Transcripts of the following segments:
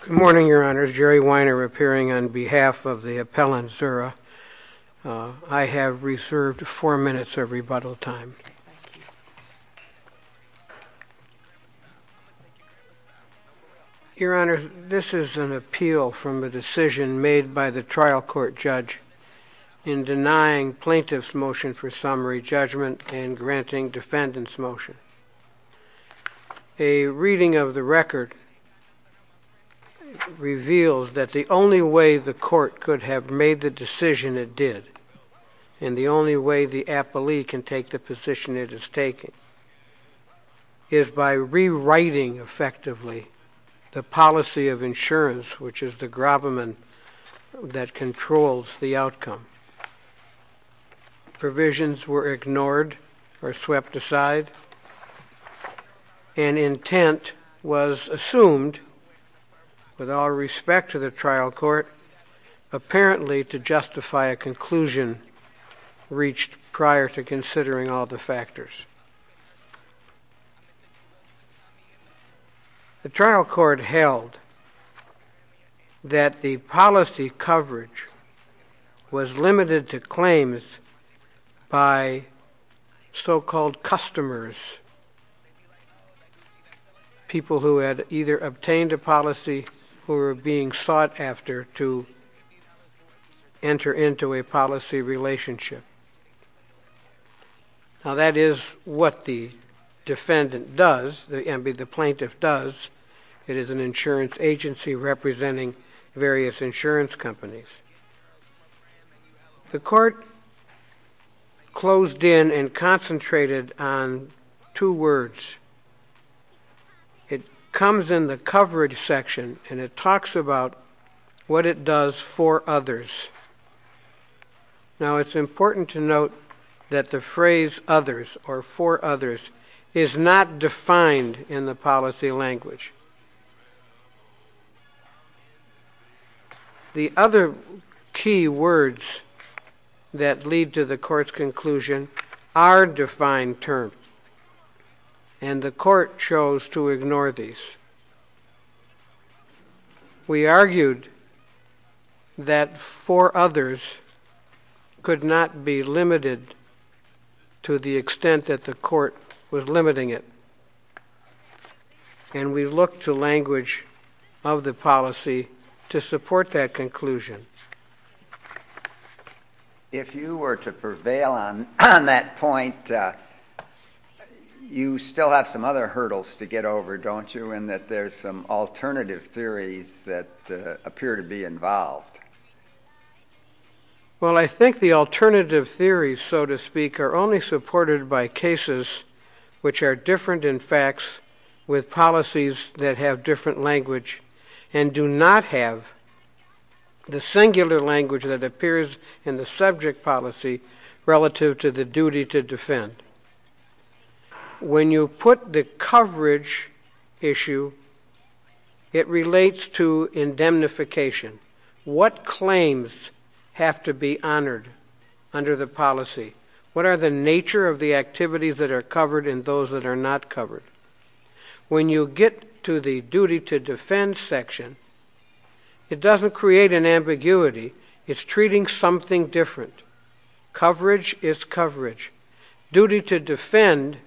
Good morning, Your Honors. Jerry Weiner appearing on behalf of the Appellant Szura. I have reserved four minutes of rebuttal time. Your Honor, this is an appeal from a decision made by the trial court judge in denying plaintiff's motion for summary judgment and granting defendant's motion. A reading of the record reveals that the only way the court could have made the decision it did, and the only way the appellee can take the position it is taking, is by rewriting effectively the policy of insurance, which is the gravamen that controls the outcome. Provisions were ignored or swept aside, and intent was assumed, with all respect to the conclusion reached prior to considering all the factors. The trial court held that the policy coverage was limited to claims by so-called customers, people who had either obtained a policy relationship. Now, that is what the defendant does, the plaintiff does. It is an insurance agency representing various insurance companies. The court closed in and concentrated on two words. It comes in the coverage section, and it talks about what it does for others. Now, it's important to note that the phrase others, or for others, is not defined in the term, and the court chose to ignore these. We argued that for others could not be limited to the extent that the court was limiting it, and we looked to language of the policy to support that You still have some other hurdles to get over, don't you, in that there's some alternative theories that appear to be involved. Well, I think the alternative theories, so to speak, are only supported by cases which are different in facts, with policies that have different language, and do not have the singular language that appears in the subject policy, relative to the duty to defend. When you put the coverage issue, it relates to indemnification. What claims have to be honored under the policy? What are the nature of the activities that are covered and those that are not covered? When you get to the duty to defend section, it doesn't create an ambiguity. It's treating something different. Coverage is coverage. Duty to defend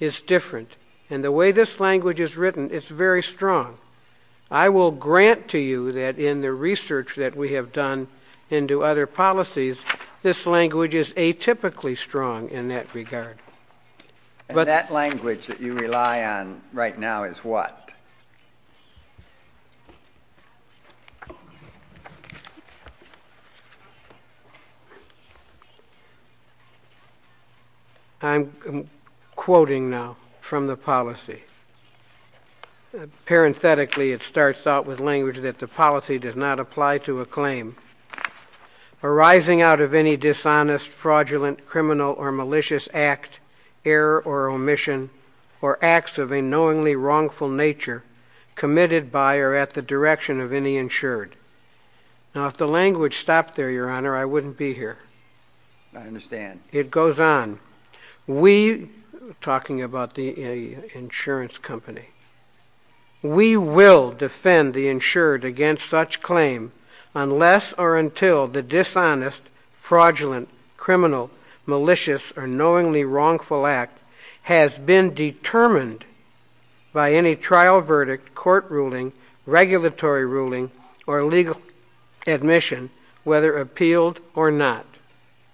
is different, and the way this language is written, it's very strong. I will grant to you that in the research that we have done into other policies, this language is atypically strong in that regard. But that language that you rely on right now is what? I'm quoting now from the policy. Parenthetically, it starts out with language that the policy does not apply to a claim arising out of any dishonest, fraudulent, criminal, or malicious act, error, or omission, or acts of a knowingly wrongful nature committed by or at the direction of any insured. Now, if the language stopped there, Your Honor, I wouldn't be here. I understand. It goes on. We, a insurance company, we will defend the insured against such claim unless or until the dishonest, fraudulent, criminal, malicious, or knowingly wrongful act has been determined by any trial verdict, court ruling, regulatory ruling, or legal admission, whether appealed or not.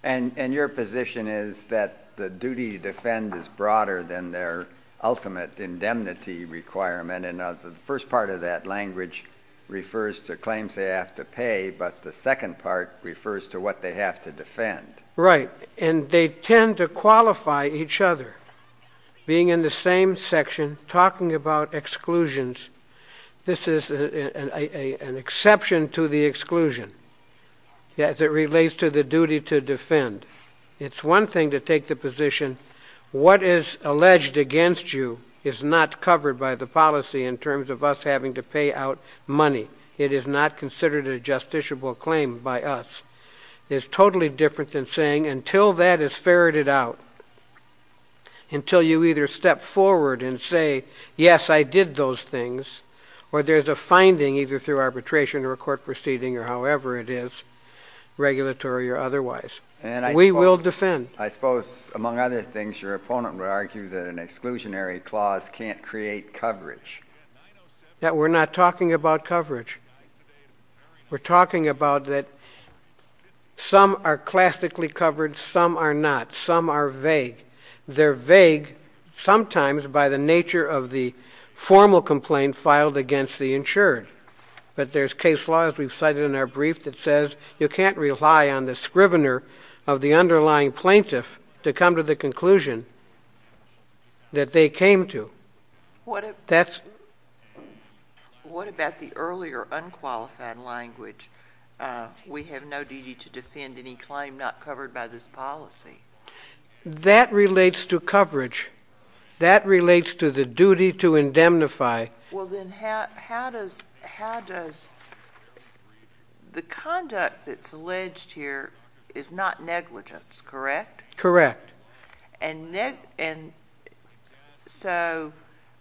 And your position is that the duty to defend is broader than their ultimate indemnity requirement. And the first part of that language refers to claims they have to pay, but the second part refers to what they have to defend. Right. And they tend to qualify each other. Being in the same section, talking about exclusions, this is an exception to the duty to defend. It's one thing to take the position, what is alleged against you is not covered by the policy in terms of us having to pay out money. It is not considered a justiciable claim by us. It's totally different than saying, until that is ferreted out, until you either step forward and say, yes, I did those things, or there's a finding, either through arbitration or a court proceeding or however it is, regulatory or otherwise. We will defend. I suppose, among other things, your opponent would argue that an exclusionary clause can't create coverage. That we're not talking about coverage. We're talking about that some are classically covered, some are not, some are vague. They're vague sometimes by the nature of the formal complaint filed against the insured. But there's case law, as we've cited in our brief, that says you can't rely on the scrivener of the underlying plaintiff to come to the conclusion that they came to. What about the earlier unqualified language, we have no duty to defend any claim not covered by this policy? That relates to coverage. That relates to the duty to indemnify. Well, then how does the conduct that's alleged here is not negligence, correct? Correct. And so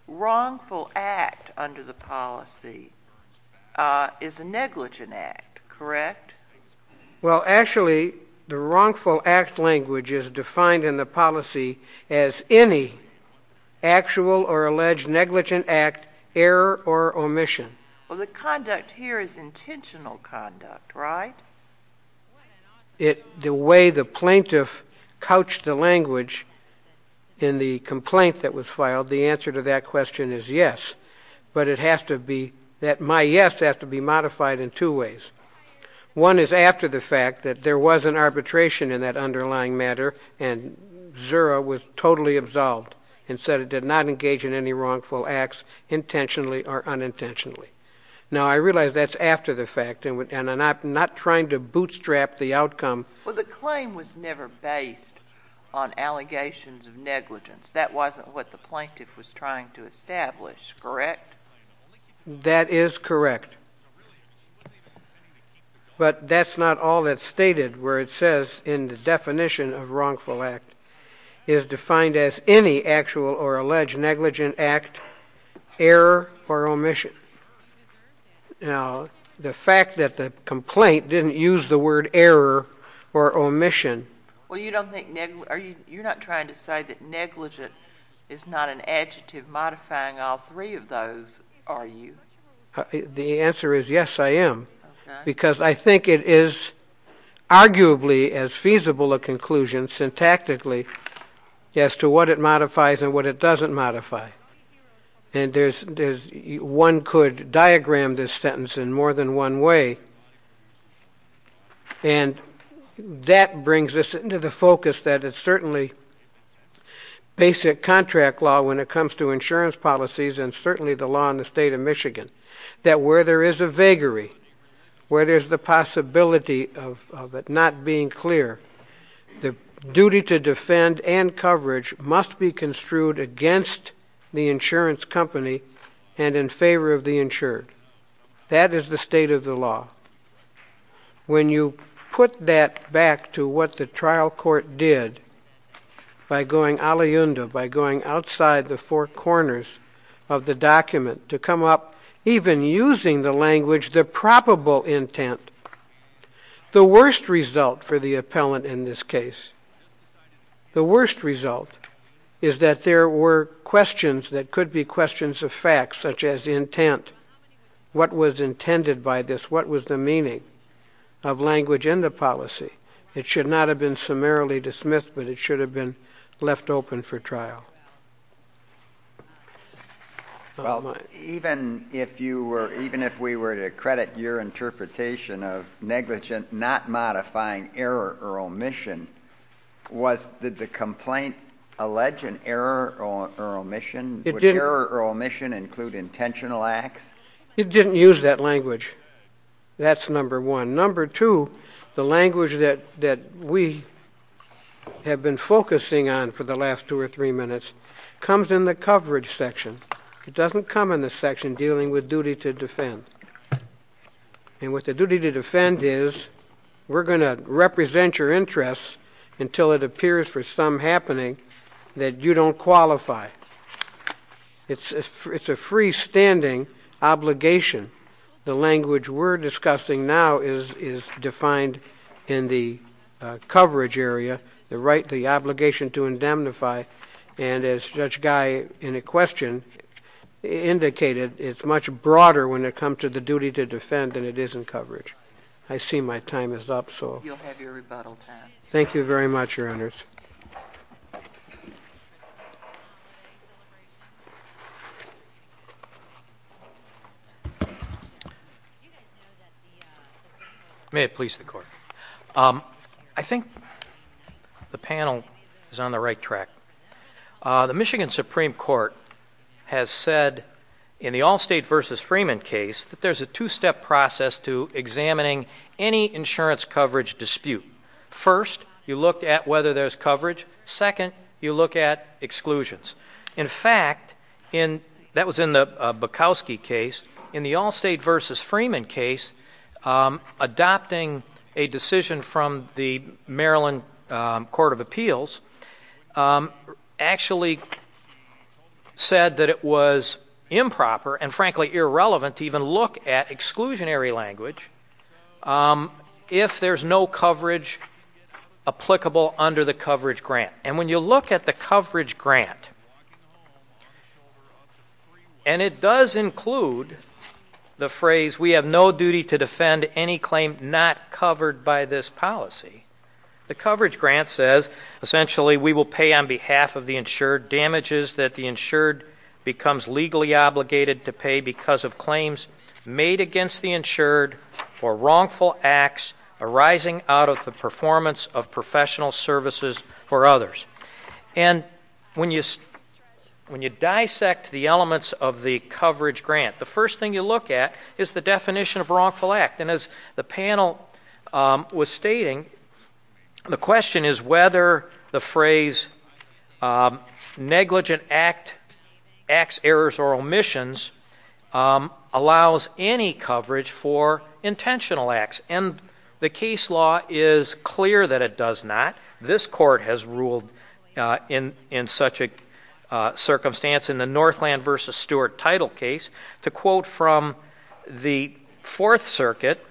wrongful act under the policy is a negligent act, correct? Well, actually, the wrongful act language is defined in the policy as any actual or alleged negligent act, error or omission. Well, the conduct here is intentional conduct, right? The way the plaintiff couched the language in the complaint that was filed, the answer to that question is yes. But it has to be, my yes has to be modified in two ways. One is after the fact that there was an arbitration in that underlying matter and Zura was totally absolved and said it did not engage in any wrongful acts intentionally or unintentionally. Now, I realize that's after the fact and I'm not trying to bootstrap the outcome. Well, the claim was never based on allegations of negligence. That wasn't what the plaintiff was trying to establish, correct? That is correct. But that's not all that's stated where it says in the definition of wrongful act is defined as any actual or alleged negligent act, error or omission. Now, the fact that the complaint didn't use the word error or omission. Well, you're not trying to say that negligent is not an adjective modifying all three of those, are you? The answer is yes, I am. Because I think it is arguably as feasible a conclusion syntactically as to what it modifies and what it doesn't modify. And one could diagram this sentence in more than one way. And that brings us into the focus that it's certainly basic contract law when it comes to insurance policies and certainly the law in the state of Michigan. That where there is a vagary, where there's the possibility of it not being clear, the duty to defend and coverage must be construed against the insurance company and in favor of the insured. That is the state of the law. When you put that back to what the trial court did by going a la yunda, by going outside the four corners of the document to come up even using the language the probable intent, the worst result for the appellant in this case, the worst result is that there were questions that could be questions of fact such as intent. What was intended by this? What was the meaning of language in the policy? It should not have been summarily dismissed, but it should have been left open for trial. Well, even if you were, even if we were to credit your interpretation of negligent not modifying error or omission, was, did the complaint allege an error or omission? Would error or omission include intentional acts? It didn't use that language. That's number one. And number two, the language that we have been focusing on for the last two or three minutes comes in the coverage section. It doesn't come in the section dealing with duty to defend. And what the duty to defend is, we're going to represent your interests until it appears for some happening that you don't qualify. It's a freestanding obligation. The language we're discussing now is defined in the coverage area, the right, the obligation to indemnify. And as Judge Guy in a question indicated, it's much broader when it comes to the duty to defend than it is in coverage. I see my time is up, so. You'll have your rebuttal time. Thank you very much, your honors. You guys know that the- May it please the court. I think the panel is on the right track. The Michigan Supreme Court has said, in the Allstate versus Freeman case, that there's a two-step process to examining any insurance coverage dispute. First, you look at whether there's coverage. Second, you look at exclusions. In fact, that was in the Bukowski case. In the Allstate versus Freeman case, adopting a decision from the Maryland Court of Appeals actually said that it was improper and frankly irrelevant to even look at exclusionary language if there's no coverage applicable under the coverage grant. And when you look at the coverage grant, and it does include the phrase, we have no duty to defend any claim not covered by this policy. The coverage grant says, essentially, we will pay on behalf of the insured damages that the insured becomes legally obligated to pay because of claims made against the insured for And when you dissect the elements of the coverage grant, the first thing you look at is the definition of wrongful act. And as the panel was stating, the question is whether the phrase negligent acts, errors, or omissions allows any coverage for intentional acts. And the case law is clear that it does not. This court has ruled in such a circumstance in the Northland versus Stewart title case. To quote from the Fourth Circuit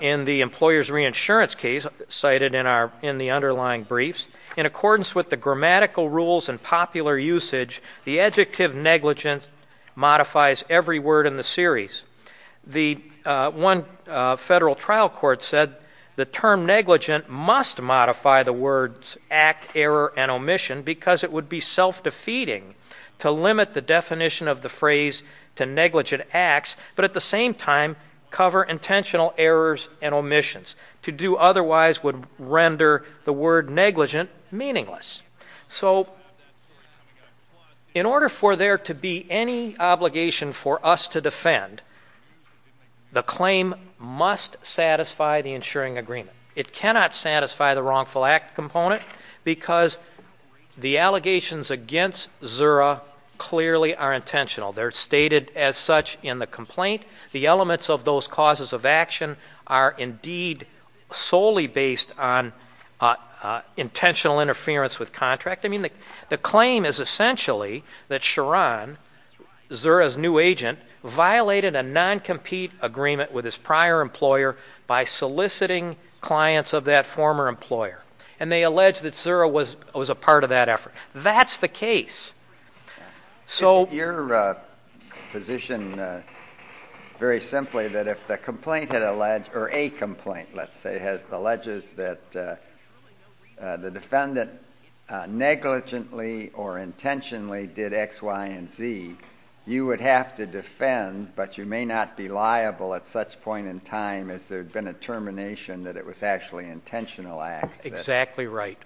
in the employer's reinsurance case, cited in the underlying briefs, in accordance with the grammatical rules and popular usage, the adjective negligence modifies every word in the series. The one federal trial court said the term negligent must modify the words act, error, and omission because it would be self-defeating to limit the definition of the phrase to negligent acts, but at the same time, cover intentional errors and omissions. To do otherwise would render the word negligent meaningless. So in order for there to be any obligation for us to defend, the claim must satisfy the insuring agreement. It cannot satisfy the wrongful act component because the allegations against Zura clearly are intentional. They're stated as such in the complaint. The elements of those causes of action are indeed solely based on intentional interference with contract. I mean, the claim is essentially that Sharon, Zura's new agent, violated a non-compete agreement with his prior employer by soliciting clients of that former employer. And they allege that Zura was a part of that effort. That's the case. So- Your position, very simply, that if the complaint had alleged, or a complaint, let's say, has alleged that the defendant negligently or intentionally did X, Y, and Z, you would have to defend, but you may not be liable at such point in time as there had been a termination that it was actually intentional acts. Exactly right.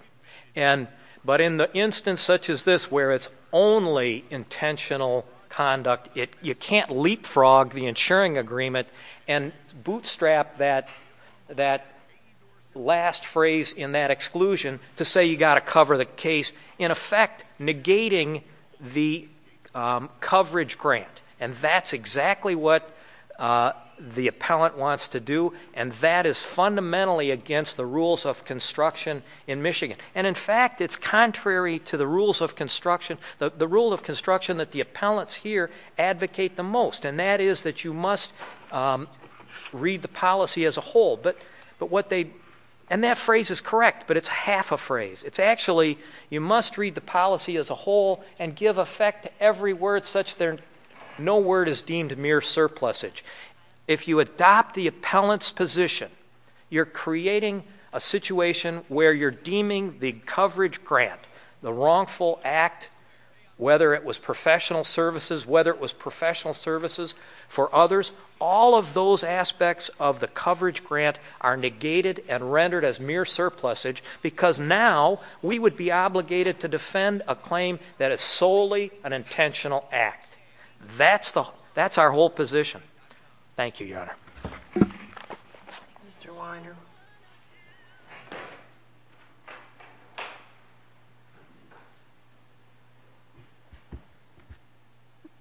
And, but in the instance such as this where it's only intentional conduct, it, you can't leapfrog the insuring agreement and bootstrap that, that last phrase in that exclusion to say you gotta cover the case. In effect, negating the coverage grant. And that's exactly what the appellant wants to do. And that is fundamentally against the rules of construction in Michigan. And in fact, it's contrary to the rules of construction, the rule of construction that the appellants here advocate the most. And that is that you must read the policy as a whole. But what they, and that phrase is correct, but it's half a phrase. It's actually, you must read the policy as a whole and give effect to every word such that no word is deemed mere surplusage. If you adopt the appellant's position, you're creating a situation where you're deeming the coverage grant, the wrongful act, whether it was professional services, whether it was professional services for others. All of those aspects of the coverage grant are negated and rendered as mere surplusage because now we would be obligated to defend a claim that is solely an intentional act. That's our whole position. Thank you, Your Honor. Mr. Weiner.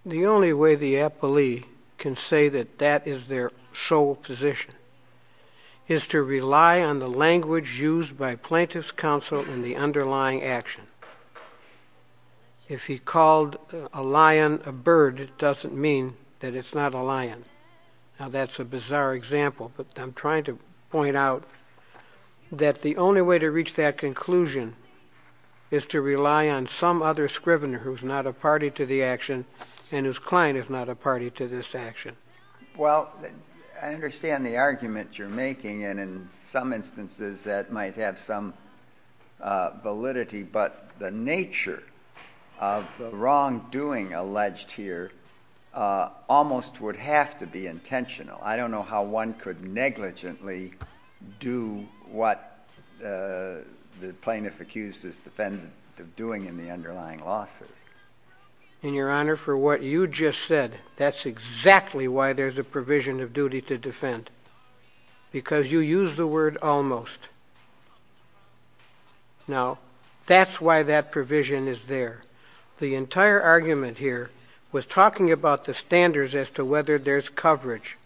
The only way the appellee can say that that is their sole position is to rely on the language used by plaintiff's counsel in the underlying action. If he called a lion a bird, it doesn't mean that it's not a lion. Now that's a bizarre example, but I'm trying to point out that the only way to reach that conclusion is to rely on some other scrivener who's not a party to the action and whose client is not a party to this action. Well, I understand the argument you're making, and in some instances that might have some validity. But the nature of the wrongdoing alleged here almost would have to be intentional. I don't know how one could negligently do what the plaintiff accused is defendant of doing in the underlying lawsuit. In your honor, for what you just said, that's exactly why there's a provision of duty to defend. Because you use the word almost. Now, that's why that provision is there. The entire argument here was talking about the standards as to whether there's coverage.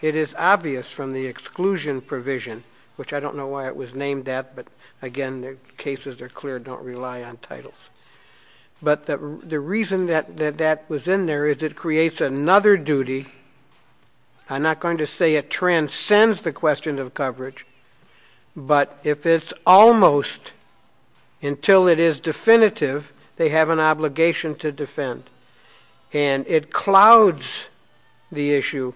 It is obvious from the exclusion provision, which I don't know why it was named that, but again, the cases are clear, don't rely on titles. But the reason that that was in there is it creates another duty. I'm not going to say it transcends the question of coverage, but if it's almost until it is definitive, they have an obligation to defend. And it clouds the issue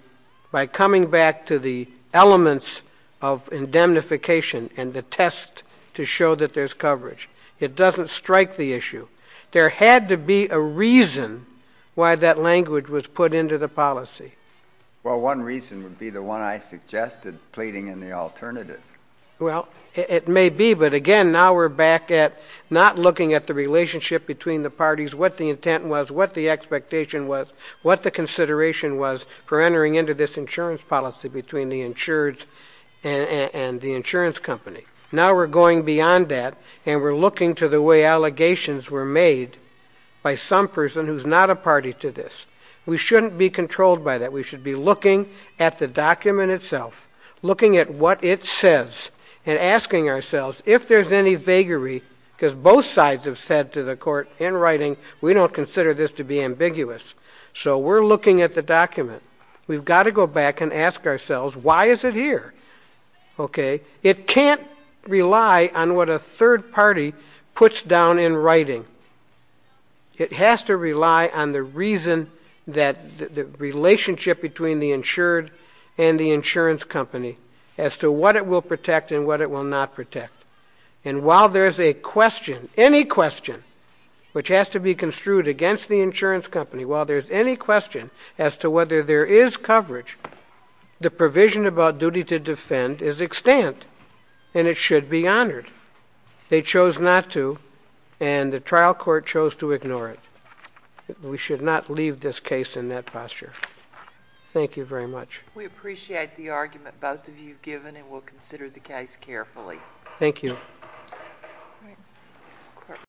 by coming back to the elements of indemnification and the test to show that there's coverage. It doesn't strike the issue. There had to be a reason why that language was put into the policy. Well, one reason would be the one I suggested pleading in the alternative. Well, it may be, but again, now we're back at not looking at the relationship between the parties, what the intent was, what the expectation was, what the consideration was for entering into this insurance policy between the insured and the insurance company. Now we're going beyond that and we're looking to the way allegations were made by some person who's not a party to this. We shouldn't be controlled by that. We should be looking at the document itself, looking at what it says and asking ourselves if there's any vagary because both sides have said to the court in writing, we don't consider this to be ambiguous. So we're looking at the document. We've got to go back and ask ourselves, why is it here? Okay. It can't rely on what a third party puts down in writing. It has to rely on the reason that the relationship between the insured and the insurance company as to what it will protect and what it will not protect. And while there's a question, any question which has to be construed against the insurance company, while there's any question as to whether there is coverage, the provision about duty to defend is extant and it should be honored. They chose not to and the trial court chose to ignore it. We should not leave this case in that posture. Thank you very much. We appreciate the argument both of you have given and we'll consider the case carefully. Thank you.